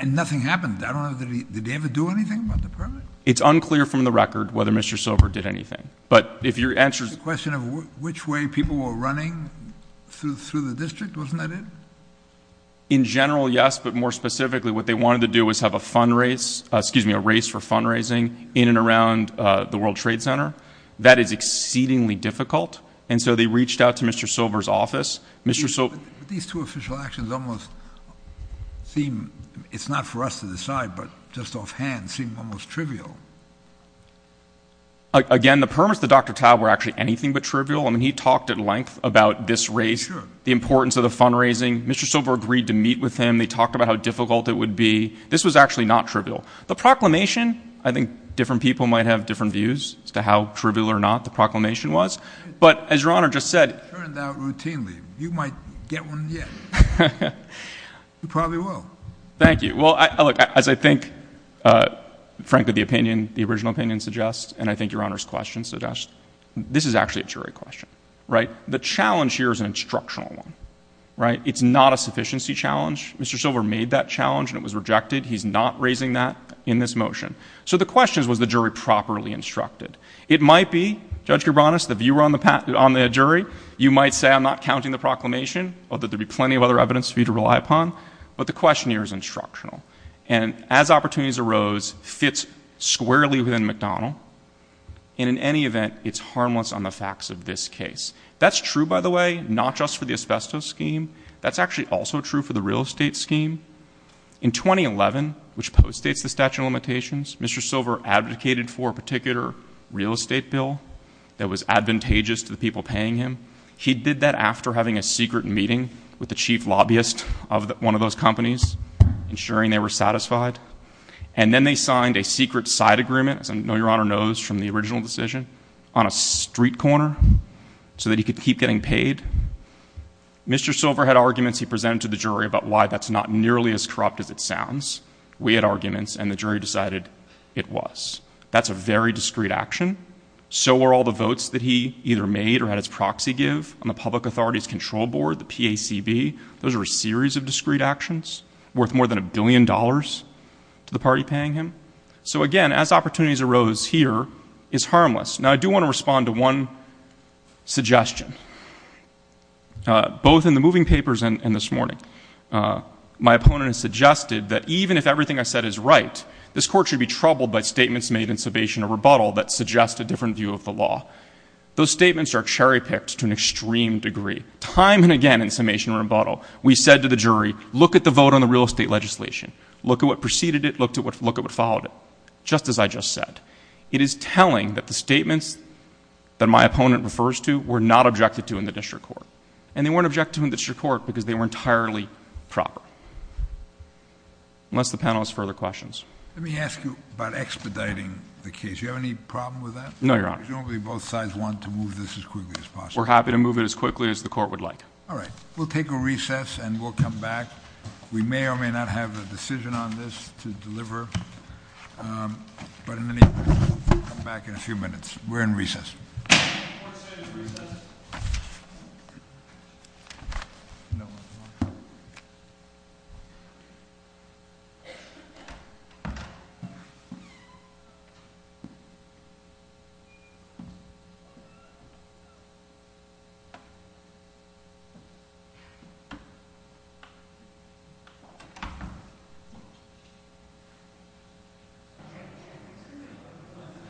and nothing happened. I don't know, did he ever do anything about the permit? It's unclear from the record whether Mr. Silver did anything. But if your answer is the question of which way people were running through the district, wasn't that it? In general, yes, but more specifically, what they wanted to do was have a fundraise, excuse me, a race for fundraising in and around the World Trade Center. That is exceedingly difficult, and so they reached out to Mr. Silver's office. But these two official actions almost seem, it's not for us to decide, but just offhand seem almost trivial. Again, the permits to Dr. Taub were actually anything but trivial. I mean, he talked at length about this race, the importance of the fundraising. Mr. Silver agreed to meet with him. They talked about how difficult it would be. This was actually not trivial. The proclamation, I think different people might have different views as to how trivial or not the proclamation was. But as Your Honor just said. It turned out routinely. You might get one yet. You probably will. Thank you. Well, look, as I think, frankly, the opinion, the original opinion suggests, and I think Your Honor's question suggests, this is actually a jury question, right? The challenge here is an instructional one, right? It's not a sufficiency challenge. Mr. Silver made that challenge, and it was rejected. He's not raising that in this motion. So the question is, was the jury properly instructed? It might be, Judge Gerbanus, if you were on the jury, you might say I'm not counting the proclamation, although there would be plenty of other evidence for you to rely upon. But the question here is instructional. And as opportunities arose, fits squarely within McDonnell, and in any event, it's harmless on the facts of this case. That's true, by the way, not just for the asbestos scheme. That's actually also true for the real estate scheme. In 2011, which postdates the statute of limitations, Mr. Silver advocated for a particular real estate bill that was advantageous to the people paying him. He did that after having a secret meeting with the chief lobbyist of one of those companies, ensuring they were satisfied. And then they signed a secret side agreement, as I know Your Honor knows from the original decision, on a street corner so that he could keep getting paid. Mr. Silver had arguments he presented to the jury about why that's not nearly as corrupt as it sounds. We had arguments, and the jury decided it was. That's a very discreet action. So are all the votes that he either made or had his proxy give on the Public Authorities Control Board, the PACB. Those are a series of discreet actions worth more than a billion dollars to the party paying him. So again, as opportunities arose here, it's harmless. Now, I do want to respond to one suggestion. Both in the moving papers and this morning, my opponent has suggested that even if everything I said is right, this Court should be troubled by statements made in summation or rebuttal that suggest a different view of the law. Those statements are cherry-picked to an extreme degree. Time and again in summation or rebuttal, we said to the jury, look at the vote on the real estate legislation, look at what preceded it, look at what followed it, just as I just said. It is telling that the statements that my opponent refers to were not objected to in the District Court. And they weren't objected to in the District Court because they were entirely proper. Unless the panel has further questions. Let me ask you about expediting the case. Do you have any problem with that? No, Your Honor. Because you don't believe both sides want to move this as quickly as possible. We're happy to move it as quickly as the Court would like. All right. We'll take a recess, and we'll come back. We may or may not have a decision on this to deliver. But in any case, we'll come back in a few minutes. We're in recess.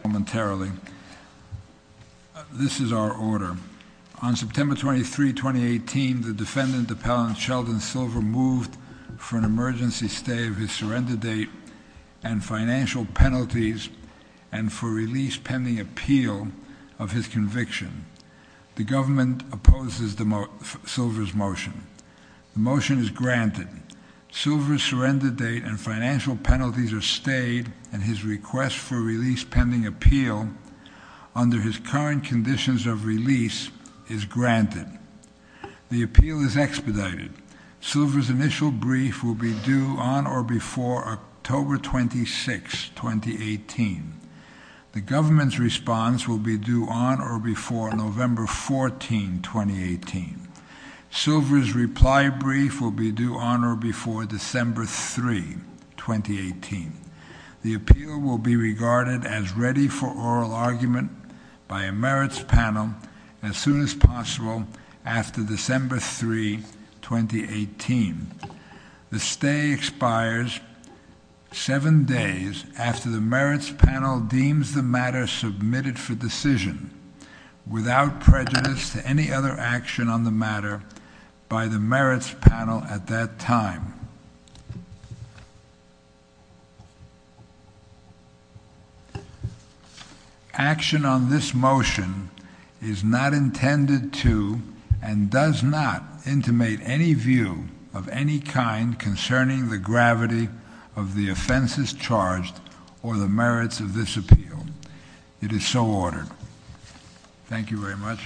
Momentarily. This is our order. On September 23, 2018, the defendant, Appellant Sheldon Silver, moved for an emergency stay of his surrender date and financial penalties and for release pending appeal of his conviction. The government opposes Silver's motion. The motion is granted. Silver's surrender date and financial penalties are stayed, and his request for release pending appeal under his current conditions of release is granted. The appeal is expedited. Silver's initial brief will be due on or before October 26, 2018. The government's response will be due on or before November 14, 2018. Silver's reply brief will be due on or before December 3, 2018. The appeal will be regarded as ready for oral argument by a merits panel as soon as possible after December 3, 2018. The stay expires seven days after the merits panel deems the matter submitted for decision, without prejudice to any other action on the matter by the merits panel at that time. Action on this motion is not intended to and does not intimate any view of any kind concerning the gravity of the offenses charged or the merits of this appeal. It is so ordered. Thank you very much.